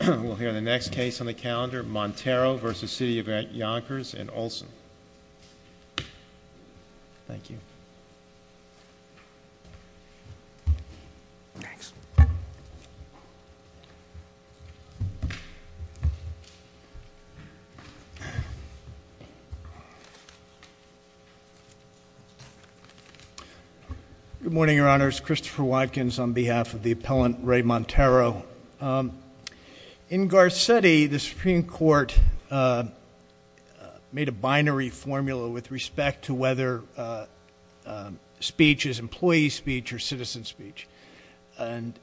We'll hear the next case on the calendar, Montero v. The City of Yonkers and Olsen. Thank you. Next. Good morning, Your Honors. Christopher Watkins on behalf of the appellant Ray Montero. In Garcetti, the Supreme Court made a binary formula with respect to whether speech is employee speech or citizen speech. And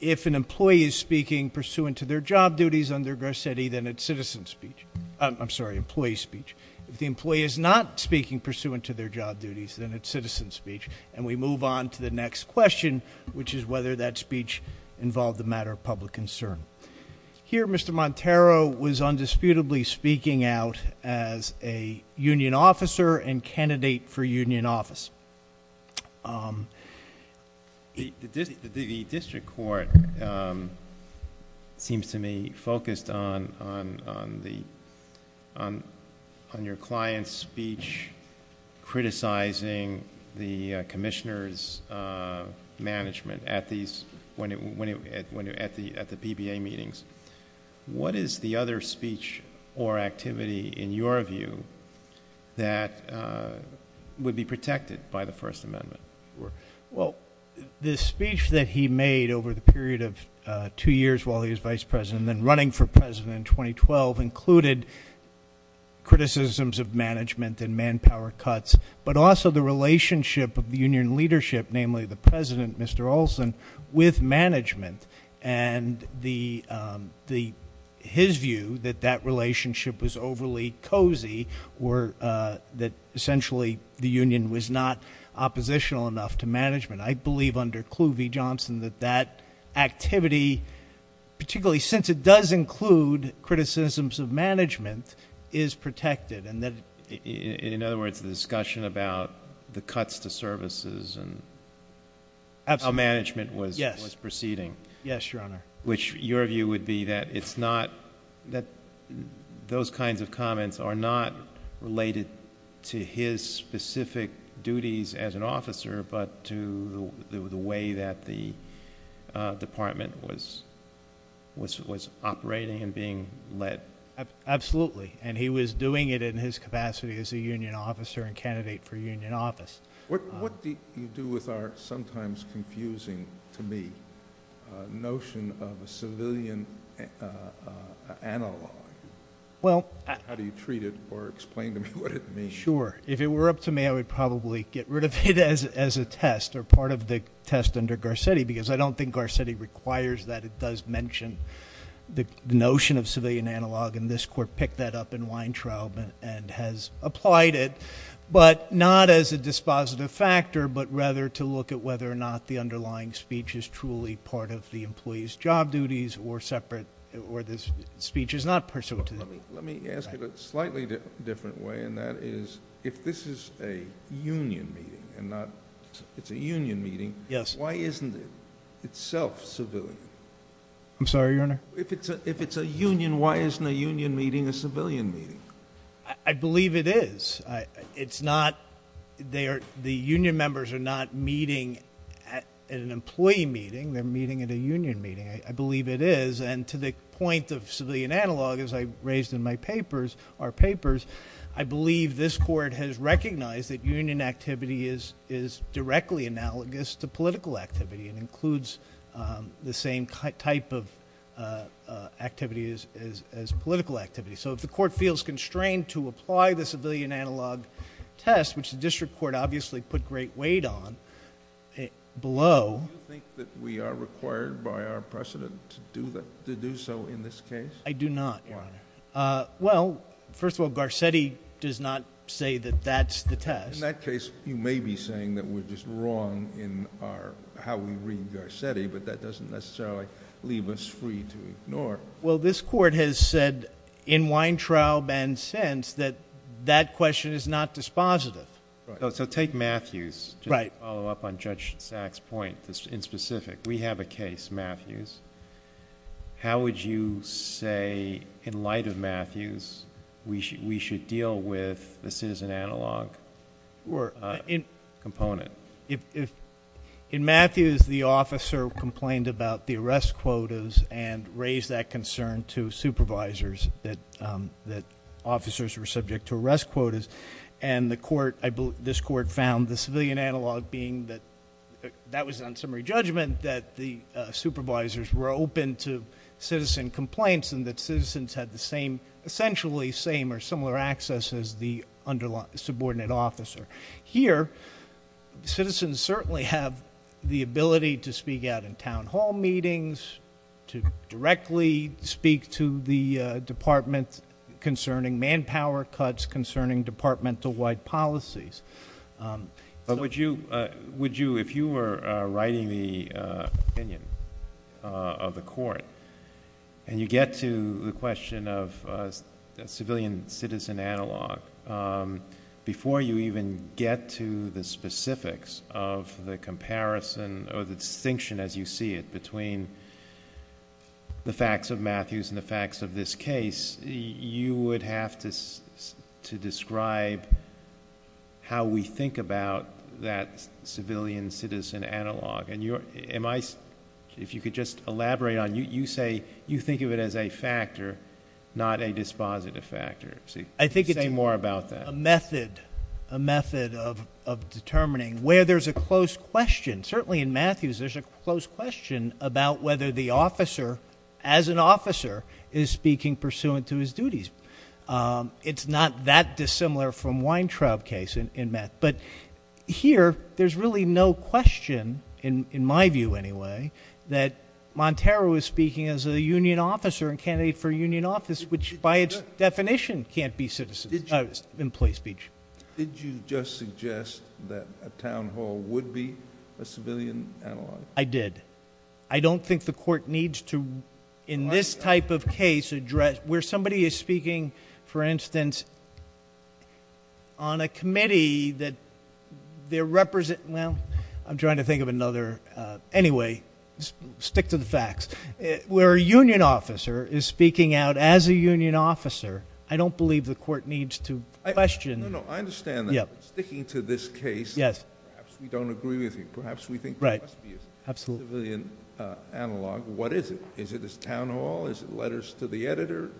if an employee is speaking pursuant to their job duties under Garcetti, then it's citizen speech. I'm sorry, employee speech. If the employee is not speaking pursuant to their job duties, then it's citizen speech. And we move on to the next question, which is whether that speech involved a matter of public concern. Here, Mr. Montero was undisputably speaking out as a union officer and candidate for union office. The district court seems to me focused on your client's speech criticizing the commissioner's management at the PBA meetings. What is the other speech or activity, in your view, that would be protected by the First Amendment? Well, the speech that he made over the period of two years while he was vice president and then running for president in 2012 included criticisms of management and manpower cuts. But also the relationship of the union leadership, namely the president, Mr. Olsen, with management. And his view that that relationship was overly cozy, or that essentially the union was not oppositional enough to management. I believe under Cluvey-Johnson that that activity, particularly since it does include criticisms of management, is protected. In other words, the discussion about the cuts to services and how management was proceeding. Yes, Your Honor. Which your view would be that those kinds of comments are not related to his specific duties as an officer, but to the way that the department was operating and being led. Absolutely. And he was doing it in his capacity as a union officer and candidate for union office. What do you do with our sometimes confusing, to me, notion of a civilian analog? How do you treat it or explain to me what it means? Sure, if it were up to me, I would probably get rid of it as a test or part of the test under Garcetti because I don't think Garcetti requires that it does mention the notion of civilian analog and this court picked that up in Weintraub and has applied it. But not as a dispositive factor, but rather to look at whether or not the underlying speech is truly part of the employee's job duties or this speech is not pursuant to that. Let me ask it a slightly different way, and that is, if this is a union meeting and not, it's a union meeting, why isn't it itself civilian? I'm sorry, your honor? If it's a union, why isn't a union meeting a civilian meeting? I believe it is. It's not, the union members are not meeting at an employee meeting, they're meeting at a union meeting. I believe it is, and to the point of civilian analog, as I raised in my papers, our papers, I believe this court has recognized that union activity is directly analogous to political activity. It includes the same type of activity as political activity. So if the court feels constrained to apply the civilian analog test, which the district court obviously put great weight on, below. Do you think that we are required by our precedent to do so in this case? I do not, your honor. Well, first of all, Garcetti does not say that that's the test. In that case, you may be saying that we're just wrong in how we read Garcetti, but that doesn't necessarily leave us free to ignore. Well, this court has said, in Weintraub and Sens, that that question is not dispositive. So take Matthews, just to follow up on Judge Sacks' point, in specific. We have a case, Matthews. How would you say, in light of Matthews, we should deal with the citizen analog component? In Matthews, the officer complained about the arrest quotas and raised that concern to supervisors that officers were subject to arrest quotas. And this court found the civilian analog being that, that was on summary judgment, that the supervisors were open to citizen complaints and that citizens had the same, essentially same or similar access as the subordinate officer. Here, citizens certainly have the ability to speak out in town hall meetings, to directly speak to the department concerning manpower cuts, concerning departmental-wide policies. But would you, if you were writing the opinion of the court and you get to the question of civilian-citizen analog, before you even get to the specifics of the comparison or the distinction as you see it between the facts of Matthews and the facts of this case, you would have to describe how we think about that civilian-citizen analog. And if you could just elaborate on, you say you think of it as a factor, not a dispositive factor. Say more about that. A method of determining where there's a close question. Certainly in Matthews, there's a close question about whether the officer, as an officer, is speaking pursuant to his duties. It's not that dissimilar from Weintraub case in that. But here, there's really no question, in my view anyway, that Montero is speaking as a union officer and candidate for union office, which by its definition can't be employee speech. Did you just suggest that a town hall would be a civilian analog? I did. I don't think the court needs to, in this type of case, address where somebody is speaking, for instance, on a committee that they're represent, well, I'm trying to think of another, anyway, stick to the facts. Where a union officer is speaking out as a union officer, I don't believe the court needs to question. No, no, I understand that. Yeah. Sticking to this case. Yes. Perhaps we don't agree with you. Perhaps we think there must be a civilian analog. What is it? Is it this town hall? Is it letters to the editor?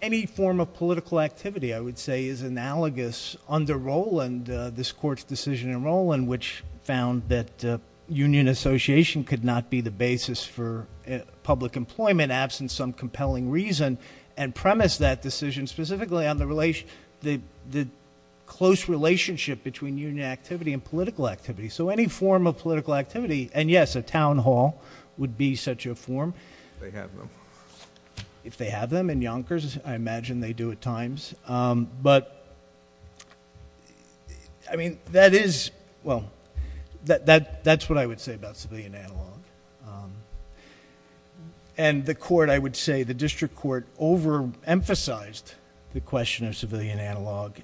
Any form of political activity, I would say, is analogous under Rowland, this court's decision in Rowland, which found that union association could not be the basis for public employment, absent some compelling reason, and premise that decision specifically on the close relationship between union activity and political activity. So any form of political activity, and yes, a town hall would be such a form. They have them. If they have them in Yonkers, I imagine they do at times. But, I mean, that is, well, that's what I would say about civilian analog. And the court, I would say, the district court overemphasized the question of civilian analog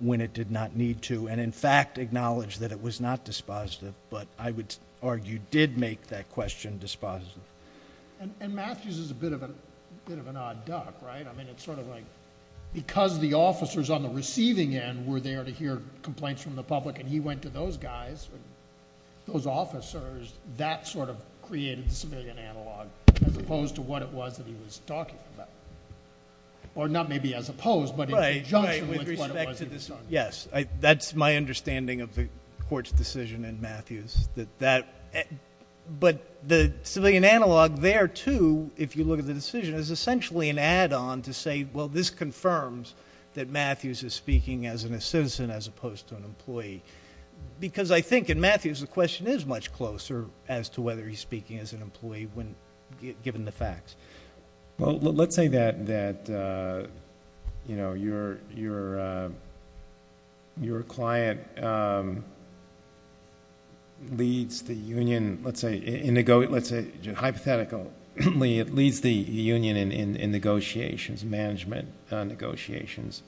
when it did not need to. And in fact, acknowledged that it was not dispositive, but I would argue did make that question dispositive. And Matthews is a bit of an odd duck, right? I mean, it's sort of like, because the officers on the receiving end were there to hear complaints from the public, and he went to those guys, those officers, that sort of created the civilian analog, as opposed to what it was that he was talking about, or not maybe as opposed, but in conjunction with what it was he was talking about. Yes, that's my understanding of the court's decision in Matthews. But the civilian analog there, too, if you look at the decision, is essentially an add-on to say, well, this confirms that Matthews is speaking as a citizen as opposed to an employee. Because I think in Matthews, the question is much closer as to whether he's speaking as an employee when given the facts. Well, let's say that your client leads the union, let's say, hypothetically, it leads the union in negotiations, management negotiations.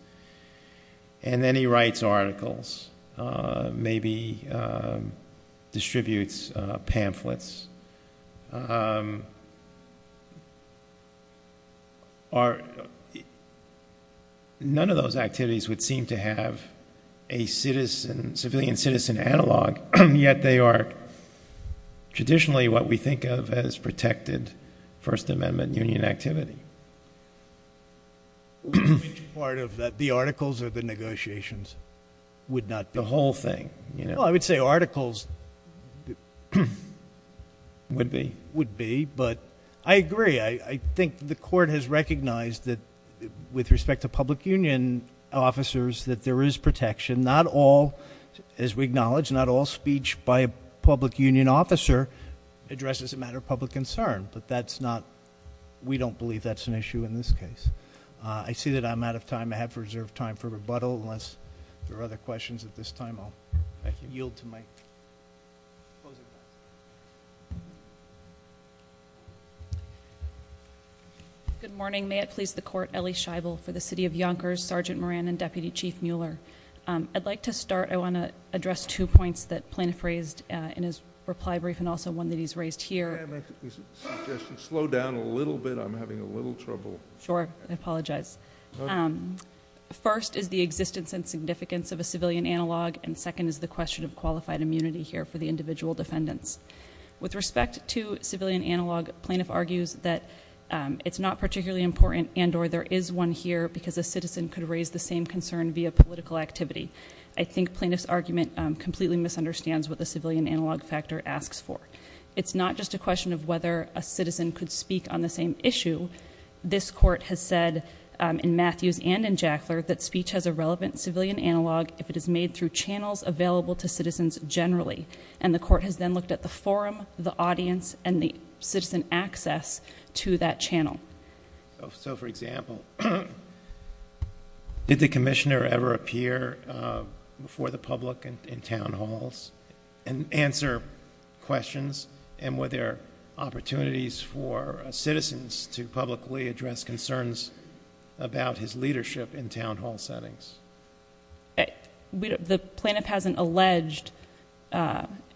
And then he writes articles, maybe distributes pamphlets. None of those activities would seem to have a civilian-citizen analog, yet they are traditionally what we think of as protected First Amendment union activity. Which part of the articles or the negotiations would not be? The whole thing. Well, I would say articles. Would be. Would be, but I agree. I think the court has recognized that with respect to public union officers that there is protection. And not all, as we acknowledge, not all speech by a public union officer addresses a matter of public concern. But that's not, we don't believe that's an issue in this case. I see that I'm out of time. I have reserved time for rebuttal unless there are other questions at this time. I'll yield to my closing thoughts. Good morning, may it please the court, Ellie Scheibel for the city of Yonkers, Sergeant Moran and Deputy Chief Mueller. I'd like to start, I want to address two points that Plaintiff raised in his reply brief and also one that he's raised here. May I make a suggestion, slow down a little bit, I'm having a little trouble. Sure, I apologize. First is the existence and significance of a civilian analog and second is the question of qualified immunity here for the individual defendants. With respect to civilian analog, plaintiff argues that it's not particularly important and or there is one here because a citizen could raise the same concern via political activity. I think plaintiff's argument completely misunderstands what the civilian analog factor asks for. It's not just a question of whether a citizen could speak on the same issue. This court has said in Matthews and in Jackler that speech has a relevant civilian analog if it is made through channels available to citizens generally. And the court has then looked at the forum, the audience, and the citizen access to that channel. So for example, did the commissioner ever appear for the public in town halls and answer questions? And were there opportunities for citizens to publicly address concerns about his leadership in town hall settings? The plaintiff hasn't alleged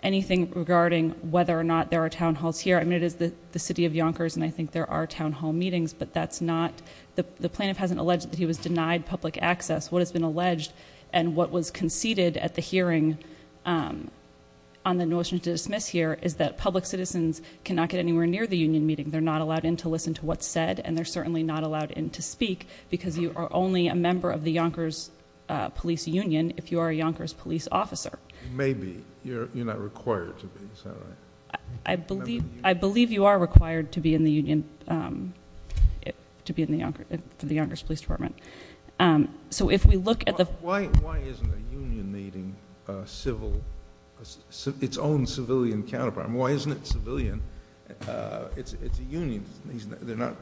anything regarding whether or not there are town halls here. I mean, it is the city of Yonkers and I think there are town hall meetings, but that's not. The plaintiff hasn't alleged that he was denied public access. What has been alleged and what was conceded at the hearing on the notion to dismiss here is that public citizens cannot get anywhere near the union meeting. They're not allowed in to listen to what's said, and they're certainly not allowed in to speak, because you are only a member of the Yonkers police union if you are a Yonkers police officer. Maybe, you're not required to be, is that right? I believe you are required to be in the union, to be in the Yonkers police department. So if we look at the- Why isn't a union meeting its own civilian counterpart? Why isn't it civilian? It's a union. They're not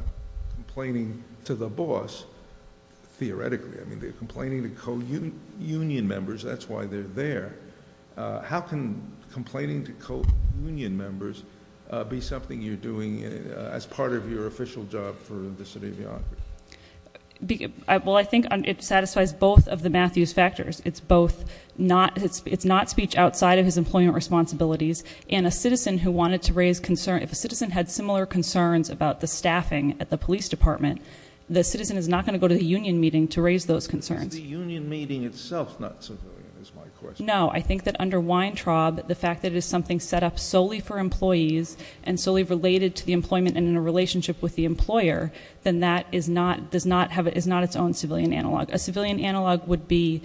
complaining to the boss, theoretically. I mean, they're complaining to co-union members. That's why they're there. How can complaining to co-union members be something you're doing as part of your official job for the city of Yonkers? Well, I think it satisfies both of the Matthews factors. It's both, it's not speech outside of his employment responsibilities, and a citizen who wanted to raise concern. If a citizen had similar concerns about the staffing at the police department, the citizen is not going to go to the union meeting to raise those concerns. Is the union meeting itself not civilian, is my question. No, I think that under Weintraub, the fact that it is something set up solely for employees and solely related to the employment and in a relationship with the employer, then that is not its own civilian analog. A civilian analog would be,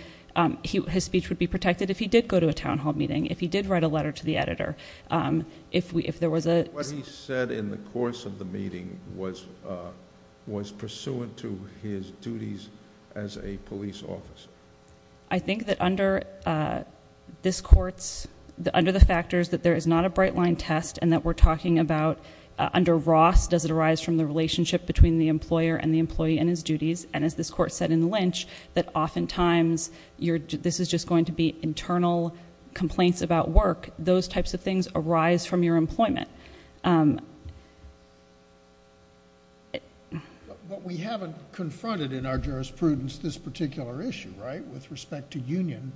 his speech would be protected if he did go to a town hall meeting, if he did write a letter to the editor, if there was a- What he said in the course of the meeting was pursuant to his duties as a police officer. I think that under this court's, under the factors that there is not a bright line test and that we're talking about under Ross, does it arise from the relationship between the employer and the employee and his duties. And as this court said in Lynch, that often times, this is just going to be internal complaints about work. Those types of things arise from your employment. But we haven't confronted in our jurisprudence this particular issue, right? With respect to union,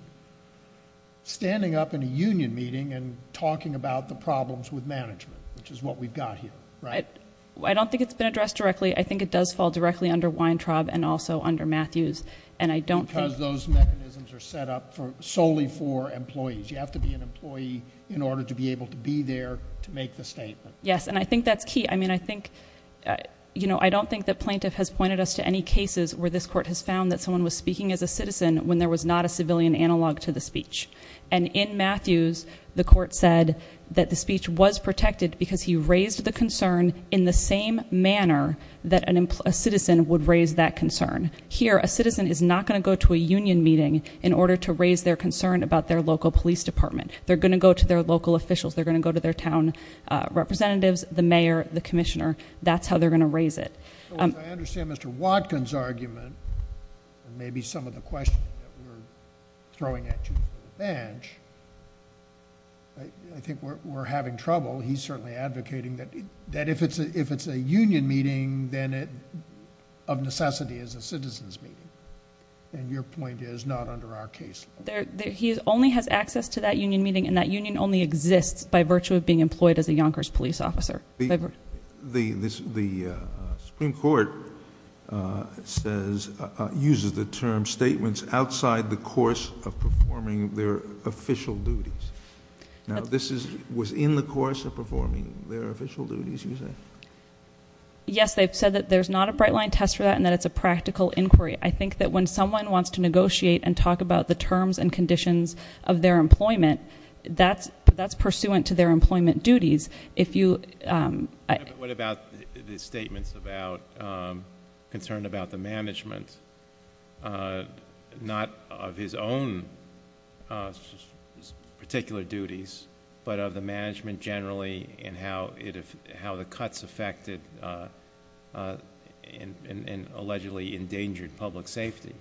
standing up in a union meeting and talking about the problems with management, which is what we've got here, right? I don't think it's been addressed directly. I think it does fall directly under Weintraub and also under Matthews. And I don't think- Because those mechanisms are set up solely for employees. You have to be an employee in order to be able to be there to make the statement. Yes, and I think that's key. I mean, I think, I don't think that plaintiff has pointed us to any cases where this court has found that someone was speaking as a citizen when there was not a civilian analog to the speech. And in Matthews, the court said that the speech was protected because he raised the concern in the same manner that a citizen would raise that concern. Here, a citizen is not going to go to a union meeting in order to raise their concern about their local police department. They're going to go to their local officials. They're going to go to their town representatives, the mayor, the commissioner. That's how they're going to raise it. I understand Mr. Watkins' argument, and maybe some of the questions that we're throwing at you for the bench. I think we're having trouble. He's certainly advocating that if it's a union meeting, then it, of necessity, is a citizen's meeting. And your point is not under our case. He only has access to that union meeting, and that union only exists by virtue of being employed as a Yonkers police officer. The Supreme Court uses the term statements outside the course of performing their official duties. Now, this is within the course of performing their official duties, you say? Yes, they've said that there's not a bright line test for that, and that it's a practical inquiry. I think that when someone wants to negotiate and talk about the terms and conditions of their employment, that's pursuant to their employment duties. If you- What about the statements about concern about the management, not of his own particular duties, but of the management generally, and how the cuts affected, and allegedly endangered public safety?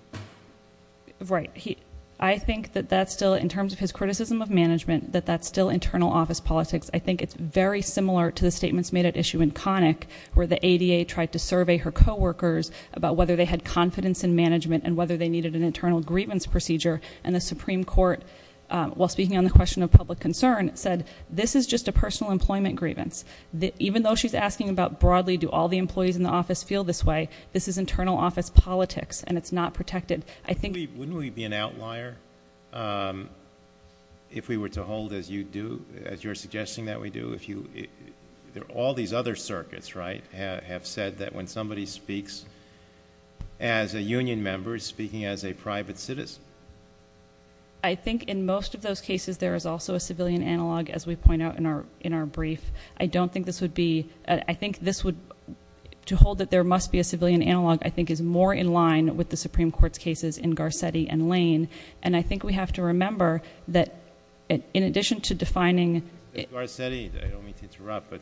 Right. I think that that's still, in terms of his criticism of management, that that's still internal office politics. I think it's very similar to the statements made at issue in Connick, where the ADA tried to survey her co-workers about whether they had confidence in management and whether they needed an internal grievance procedure. And the Supreme Court, while speaking on the question of public concern, said, this is just a personal employment grievance. Even though she's asking about broadly, do all the employees in the office feel this way, this is internal office politics, and it's not protected. I think- Wouldn't we be an outlier if we were to hold, as you do, as you're suggesting that we do, if you, all these other circuits, right, have said that when somebody speaks as a union member, is speaking as a private citizen? I think in most of those cases, there is also a civilian analog, as we point out in our brief. I don't think this would be, I think this would, to hold that there must be a civilian analog, I think is more in line with the Supreme Court's cases in Garcetti and Lane. And I think we have to remember that in addition to defining- Garcetti, I don't mean to interrupt, but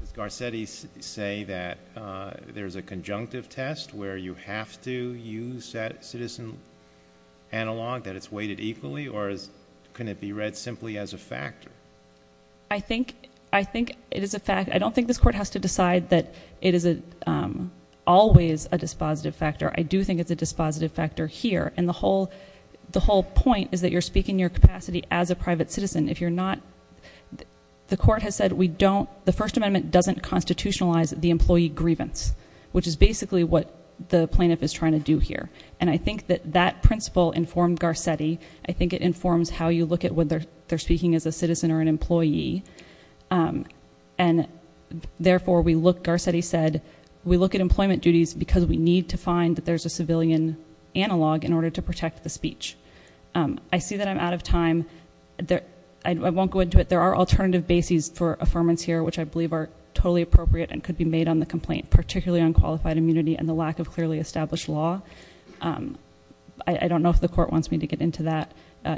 does Garcetti say that there's a conjunctive test where you have to use that citizen analog, that it's weighted equally? Or can it be read simply as a factor? I think it is a fact. I don't think this court has to decide that it is always a dispositive factor. I do think it's a dispositive factor here. And the whole point is that you're speaking your capacity as a private citizen. If you're not, the court has said we don't, the First Amendment doesn't constitutionalize the employee grievance. Which is basically what the plaintiff is trying to do here. And I think that that principle informed Garcetti. I think it informs how you look at whether they're speaking as a citizen or an employee. And therefore, we look, Garcetti said, we look at employment duties because we need to find that there's a civilian analog in order to protect the speech. I see that I'm out of time, I won't go into it. There are alternative bases for affirmance here, which I believe are totally appropriate and could be made on the complaint. Particularly on qualified immunity and the lack of clearly established law. I don't know if the court wants me to get into that,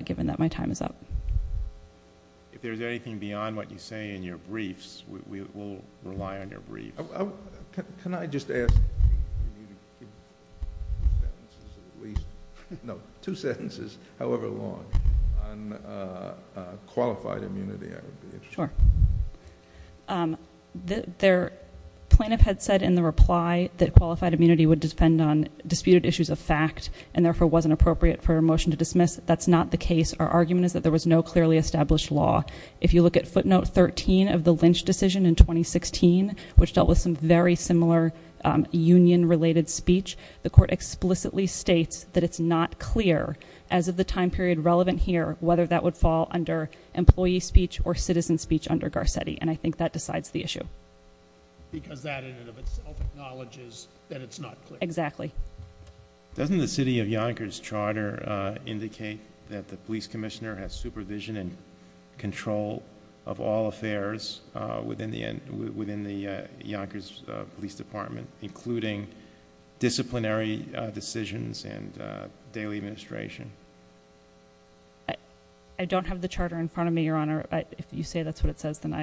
given that my time is up. If there's anything beyond what you say in your briefs, we'll rely on your briefs. Can I just ask, two sentences, however long, on qualified immunity? I would be interested. Sure. The plaintiff had said in the reply that qualified immunity would depend on disputed issues of fact, and therefore wasn't appropriate for a motion to dismiss. That's not the case. Our argument is that there was no clearly established law. If you look at footnote 13 of the Lynch decision in 2016, which dealt with some very similar union related speech. The court explicitly states that it's not clear, as of the time period relevant here, whether that would fall under employee speech or citizen speech under Garcetti, and I think that decides the issue. Because that in and of itself acknowledges that it's not clear. Exactly. Doesn't the city of Yonkers charter indicate that the police commissioner has supervision and control of all affairs within the Yonkers Police Department, including disciplinary decisions and daily administration? I don't have the charter in front of me, your honor. If you say that's what it says, then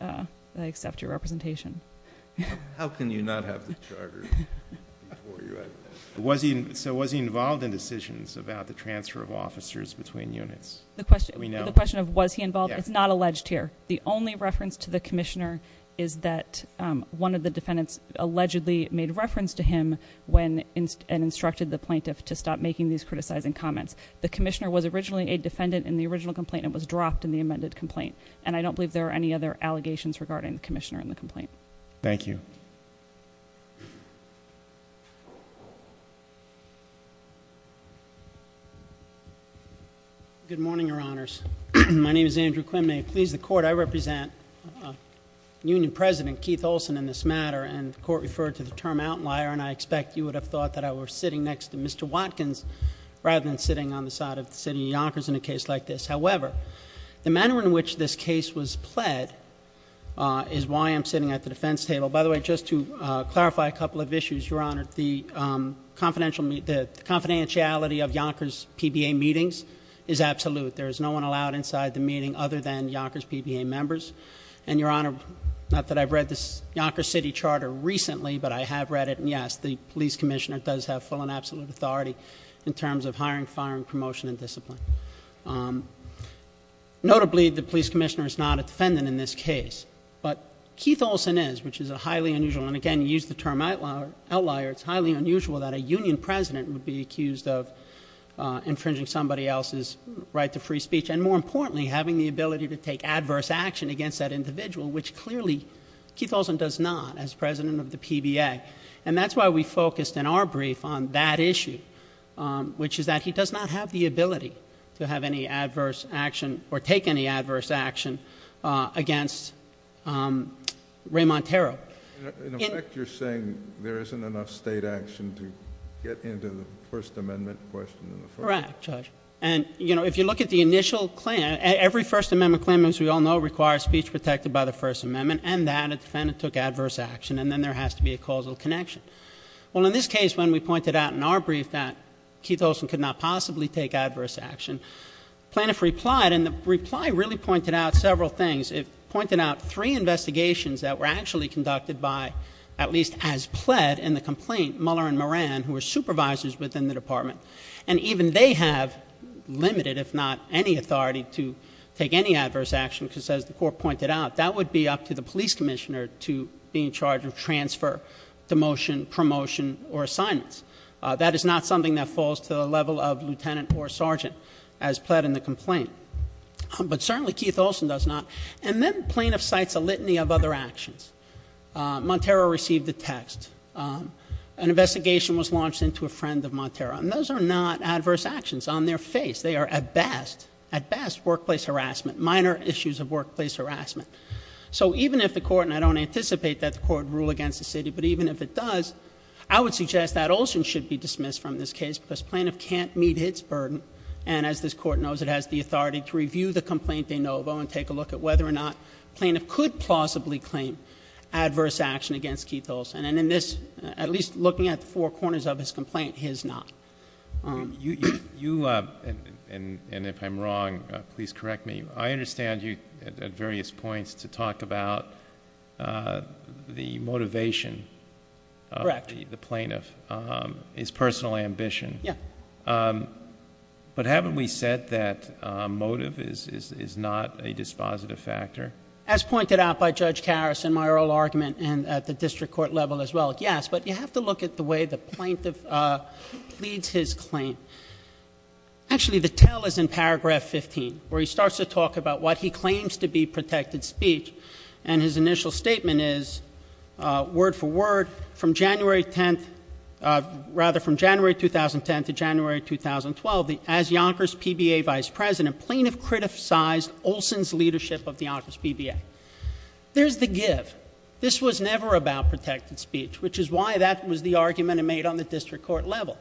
I accept your representation. How can you not have the charter before you have it? So was he involved in decisions about the transfer of officers between units? We know. The question of was he involved, it's not alleged here. The only reference to the commissioner is that one of the defendants allegedly made reference to him when, and instructed the plaintiff to stop making these criticizing comments. The commissioner was originally a defendant in the original complaint and was dropped in the amended complaint. And I don't believe there are any other allegations regarding the commissioner in the complaint. Thank you. Good morning, your honors. My name is Andrew Quinmay. Please, the court, I represent Union President Keith Olsen in this matter, and the court referred to the term outlier. And I expect you would have thought that I were sitting next to Mr. Watkins rather than sitting on the side of the city of Yonkers in a case like this. However, the manner in which this case was pled is why I'm sitting at the defense table. By the way, just to clarify a couple of issues, your honor. The confidentiality of Yonkers PBA meetings is absolute. There is no one allowed inside the meeting other than Yonkers PBA members. And your honor, not that I've read this Yonker City Charter recently, but I have read it. And yes, the police commissioner does have full and absolute authority in terms of hiring, firing, promotion, and discipline. Notably, the police commissioner is not a defendant in this case. But Keith Olsen is, which is a highly unusual, and again, use the term outlier. It's highly unusual that a union president would be accused of infringing somebody else's right to free speech. And more importantly, having the ability to take adverse action against that individual, which clearly Keith Olsen does not as president of the PBA. And that's why we focused in our brief on that issue, which is that he does not have the ability to have any adverse action or take any adverse action against Ray Monteiro. In effect, you're saying there isn't enough state action to get into the First Amendment question in the first. Correct, Judge. And if you look at the initial claim, every First Amendment claim, as we all know, requires speech protected by the First Amendment. And that a defendant took adverse action, and then there has to be a causal connection. Well, in this case, when we pointed out in our brief that Keith Olsen could not possibly take adverse action, plaintiff replied, and the reply really pointed out several things. It pointed out three investigations that were actually conducted by, at least as pled, in the complaint, Muller and Moran, who were supervisors within the department. And even they have limited, if not any, authority to take any adverse action, because as the court pointed out, that would be up to the police commissioner to be in charge of transfer, demotion, promotion, or assignments. That is not something that falls to the level of lieutenant or sergeant, as pled in the complaint. But certainly, Keith Olsen does not. And then plaintiff cites a litany of other actions. Monteiro received a text, an investigation was launched into a friend of Monteiro, and those are not adverse actions on their face. They are at best, at best, workplace harassment, minor issues of workplace harassment. So even if the court, and I don't anticipate that the court would rule against the city, but even if it does, I would suggest that Olsen should be dismissed from this case because plaintiff can't meet his burden. And as this court knows, it has the authority to review the complaint de novo and take a look at whether or not plaintiff could plausibly claim adverse action against Keith Olsen. And in this, at least looking at the four corners of his complaint, his not. You, and if I'm wrong, please correct me. I understand you at various points to talk about the motivation. Correct. The plaintiff, his personal ambition. Yeah. But haven't we said that motive is not a dispositive factor? As pointed out by Judge Harrison, my oral argument, and at the district court level as well, yes. But you have to look at the way the plaintiff leads his claim. Actually, the tell is in paragraph 15, where he starts to talk about what he claims to be protected speech. And his initial statement is, word for word, from January 10th, rather from January 2010 to January 2012, as Yonkers PBA Vice President, plaintiff criticized Olsen's leadership of the Yonkers PBA. There's the give. This was never about protected speech, which is why that was the argument made on the district court level.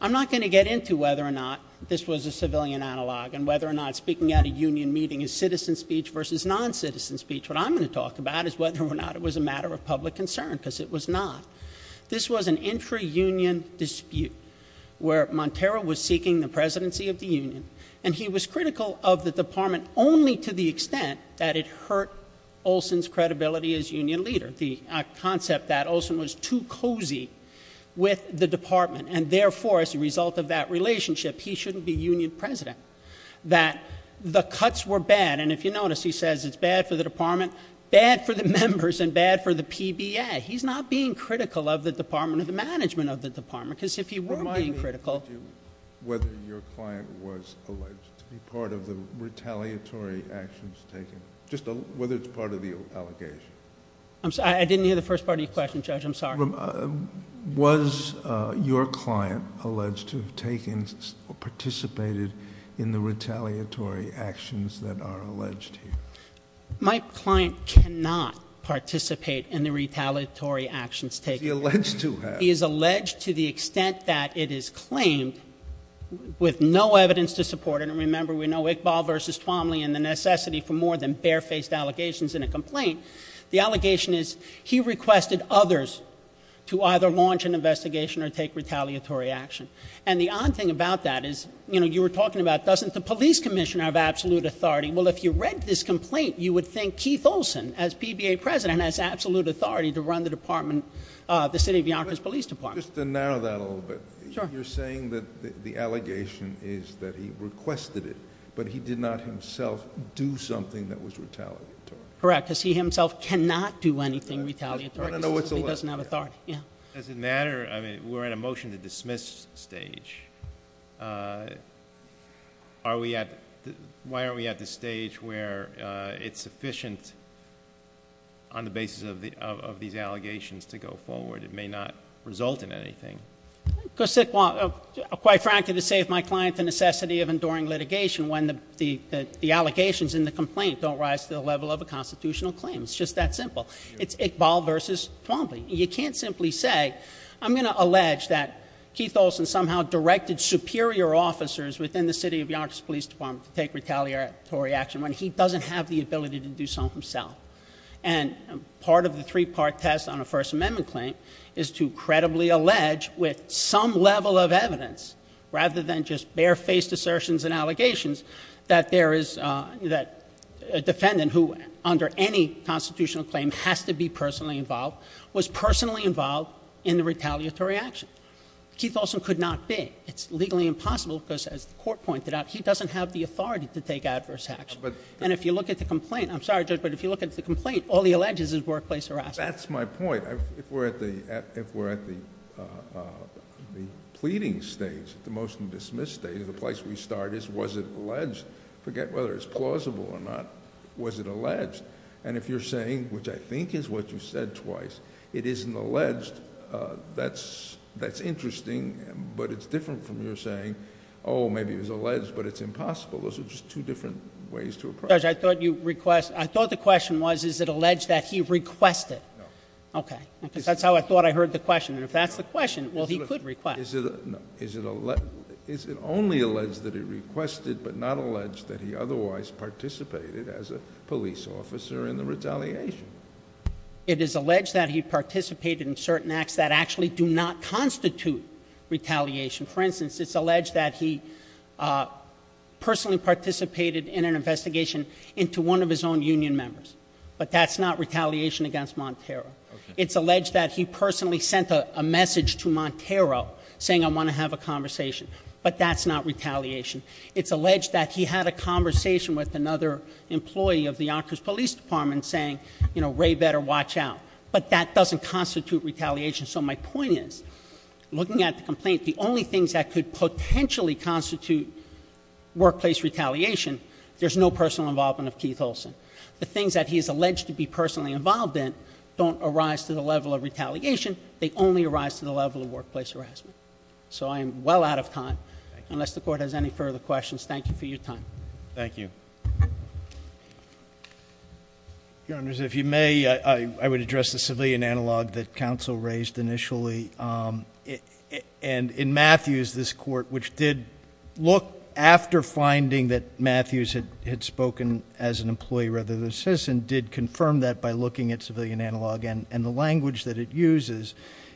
I'm not going to get into whether or not this was a civilian analog, and whether or not speaking at a union meeting is citizen speech versus non-citizen speech. What I'm going to talk about is whether or not it was a matter of public concern, because it was not. This was an intra-union dispute, where Montero was seeking the presidency of the union. And he was critical of the department only to the extent that it hurt Olsen's credibility as union leader. The concept that Olsen was too cozy with the department, and therefore, as a result of that relationship, he shouldn't be union president, that the cuts were bad. And if you notice, he says it's bad for the department, bad for the members, and bad for the PBA. He's not being critical of the department or the management of the department, because if he were being critical- Was your client alleged to be part of the retaliatory actions taken, just whether it's part of the allegation? I'm sorry, I didn't hear the first part of your question, Judge. I'm sorry. Was your client alleged to have taken, participated in the retaliatory actions that are alleged here? My client cannot participate in the retaliatory actions taken. He's alleged to have. Supported, and remember, we know Iqbal versus Twomley and the necessity for more than barefaced allegations in a complaint. The allegation is, he requested others to either launch an investigation or take retaliatory action. And the odd thing about that is, you were talking about, doesn't the police commissioner have absolute authority? Well, if you read this complaint, you would think Keith Olsen, as PBA president, has absolute authority to run the department, the city of Yonkers Police Department. Just to narrow that a little bit, you're saying that the allegation is that he requested it, but he did not himself do something that was retaliatory. Correct, because he himself cannot do anything retaliatory, because he doesn't have authority, yeah. Does it matter, I mean, we're in a motion to dismiss stage. Why aren't we at the stage where it's sufficient on the basis of these allegations to go forward? It may not result in anything. Because, quite frankly, to save my client the necessity of enduring litigation when the allegations in the complaint don't rise to the level of a constitutional claim. It's just that simple. It's Iqbal versus Twomley. You can't simply say, I'm going to allege that Keith Olsen somehow directed superior officers within the city of Yonkers Police Department to take retaliatory action when he doesn't have the ability to do so himself. And part of the three part test on a First Amendment claim is to credibly allege with some level of evidence, rather than just bare faced assertions and allegations, that a defendant who under any constitutional claim has to be personally involved, was personally involved in the retaliatory action. Keith Olsen could not be. It's legally impossible, because as the court pointed out, he doesn't have the authority to take adverse action. And if you look at the complaint, I'm sorry, Judge, but if you look at the complaint, all he alleges is workplace harassment. That's my point. If we're at the pleading stage, the motion to dismiss stage, the place we start is was it alleged, forget whether it's plausible or not, was it alleged? And if you're saying, which I think is what you said twice, it isn't alleged, that's interesting, but it's different from you're saying, maybe it was alleged, but it's impossible. Those are just two different ways to approach it. Judge, I thought you request, I thought the question was, is it alleged that he requested? Okay, because that's how I thought I heard the question, and if that's the question, well, he could request. Is it only alleged that he requested, but not alleged that he otherwise participated as a police officer in the retaliation? It is alleged that he participated in certain acts that actually do not constitute retaliation. For instance, it's alleged that he personally participated in an investigation into one of his own union members. But that's not retaliation against Montero. It's alleged that he personally sent a message to Montero saying I want to have a conversation. But that's not retaliation. It's alleged that he had a conversation with another employee of the Yonkers Police Department saying, Ray better watch out. But that doesn't constitute retaliation. So my point is, looking at the complaint, the only things that could potentially constitute workplace retaliation. There's no personal involvement of Keith Olsen. The things that he is alleged to be personally involved in don't arise to the level of retaliation. They only arise to the level of workplace harassment. So I am well out of time. Unless the court has any further questions, thank you for your time. Thank you. Your Honor, if you may, I would address the civilian analog that counsel raised initially. And in Matthews, this court, which did look after finding that Matthews had spoken as an employee rather than a citizen, did confirm that by looking at civilian analog and the language that it uses.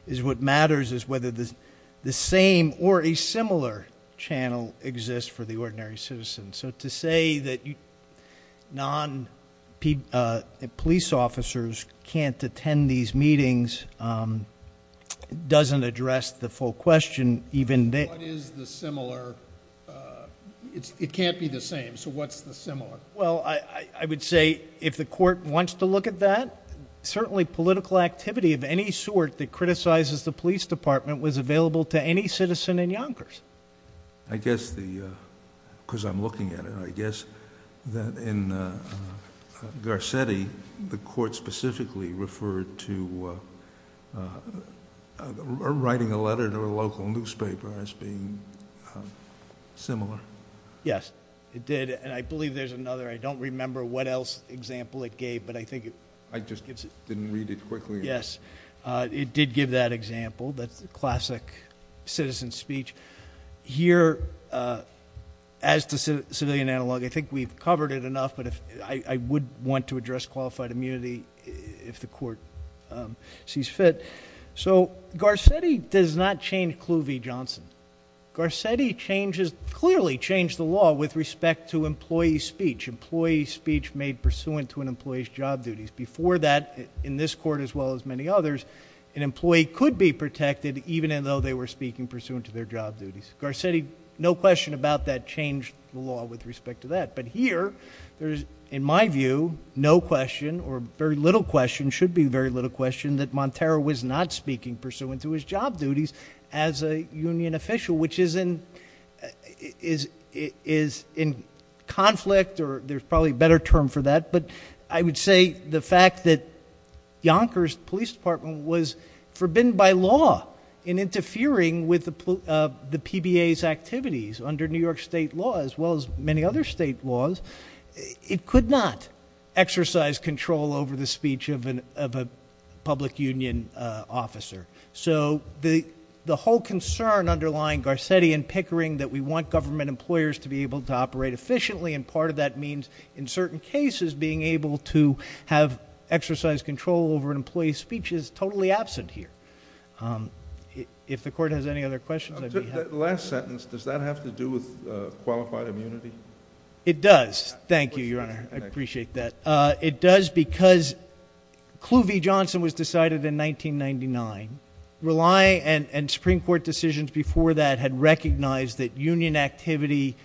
Is what matters is whether the same or a similar channel exists for the ordinary citizen. So to say that non-police officers can't attend these meetings doesn't address the full question even then. What is the similar, it can't be the same, so what's the similar? Well, I would say if the court wants to look at that, certainly political activity of any sort that criticizes the police department was available to any citizen in Yonkers. I guess the, because I'm looking at it, I guess that in Garcetti, the court specifically referred to writing a letter to a local newspaper as being similar. Yes, it did, and I believe there's another, I don't remember what else example it gave, but I think it- I just didn't read it quickly enough. Yes, it did give that example, that classic citizen speech. Here, as to civilian analog, I think we've covered it enough, but I would want to address qualified immunity if the court sees fit. So Garcetti does not change Cluvee Johnson. Garcetti clearly changed the law with respect to employee speech. Employee speech made pursuant to an employee's job duties. Before that, in this court as well as many others, an employee could be protected even though they were speaking pursuant to their job duties. Garcetti, no question about that, changed the law with respect to that. But here, in my view, no question or very little question, should be very little question that Montero was not speaking pursuant to his job duties as a union official, which is in conflict, or there's probably a better term for that. But I would say the fact that Yonkers Police Department was forbidden by law in interfering with the PBA's activities under New York state law as well as many other state laws. It could not exercise control over the speech of a public union officer. So the whole concern underlying Garcetti and Pickering that we want government employers to be able to operate efficiently. And part of that means, in certain cases, being able to have exercise control over an employee's speech is totally absent here. If the court has any other questions, I'd be happy to- Last sentence, does that have to do with qualified immunity? It does. Thank you, Your Honor. I appreciate that. It does because Clue v Johnson was decided in 1999. Rely and Supreme Court decisions before that had recognized that union activity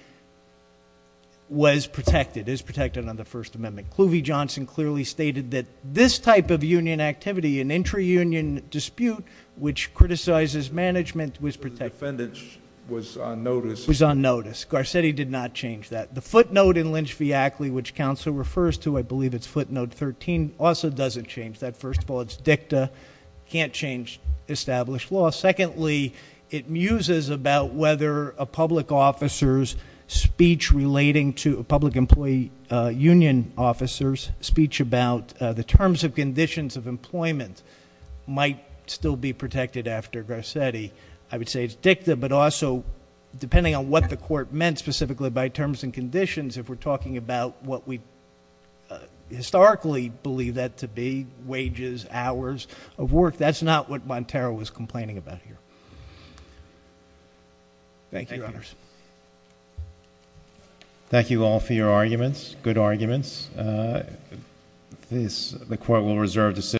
was protected, is protected under the First Amendment. Clue v Johnson clearly stated that this type of union activity, an intra-union dispute which criticizes management, was protected. The defendant was on notice. Was on notice. Garcetti did not change that. The footnote in Lynch v Ackley, which counsel refers to, I believe it's footnote 13, also doesn't change that. First of all, it's dicta, can't change established law. Secondly, it muses about whether a public officer's speech relating to a public employee, union officers' speech about the terms and conditions of employment might still be protected after Garcetti. I would say it's dicta, but also depending on what the court meant specifically by terms and conditions. If we're talking about what we historically believe that to be, wages, hours of work, that's not what Montero was complaining about here. Thank you, Your Honors. Thank you all for your arguments, good arguments. The court will reserve the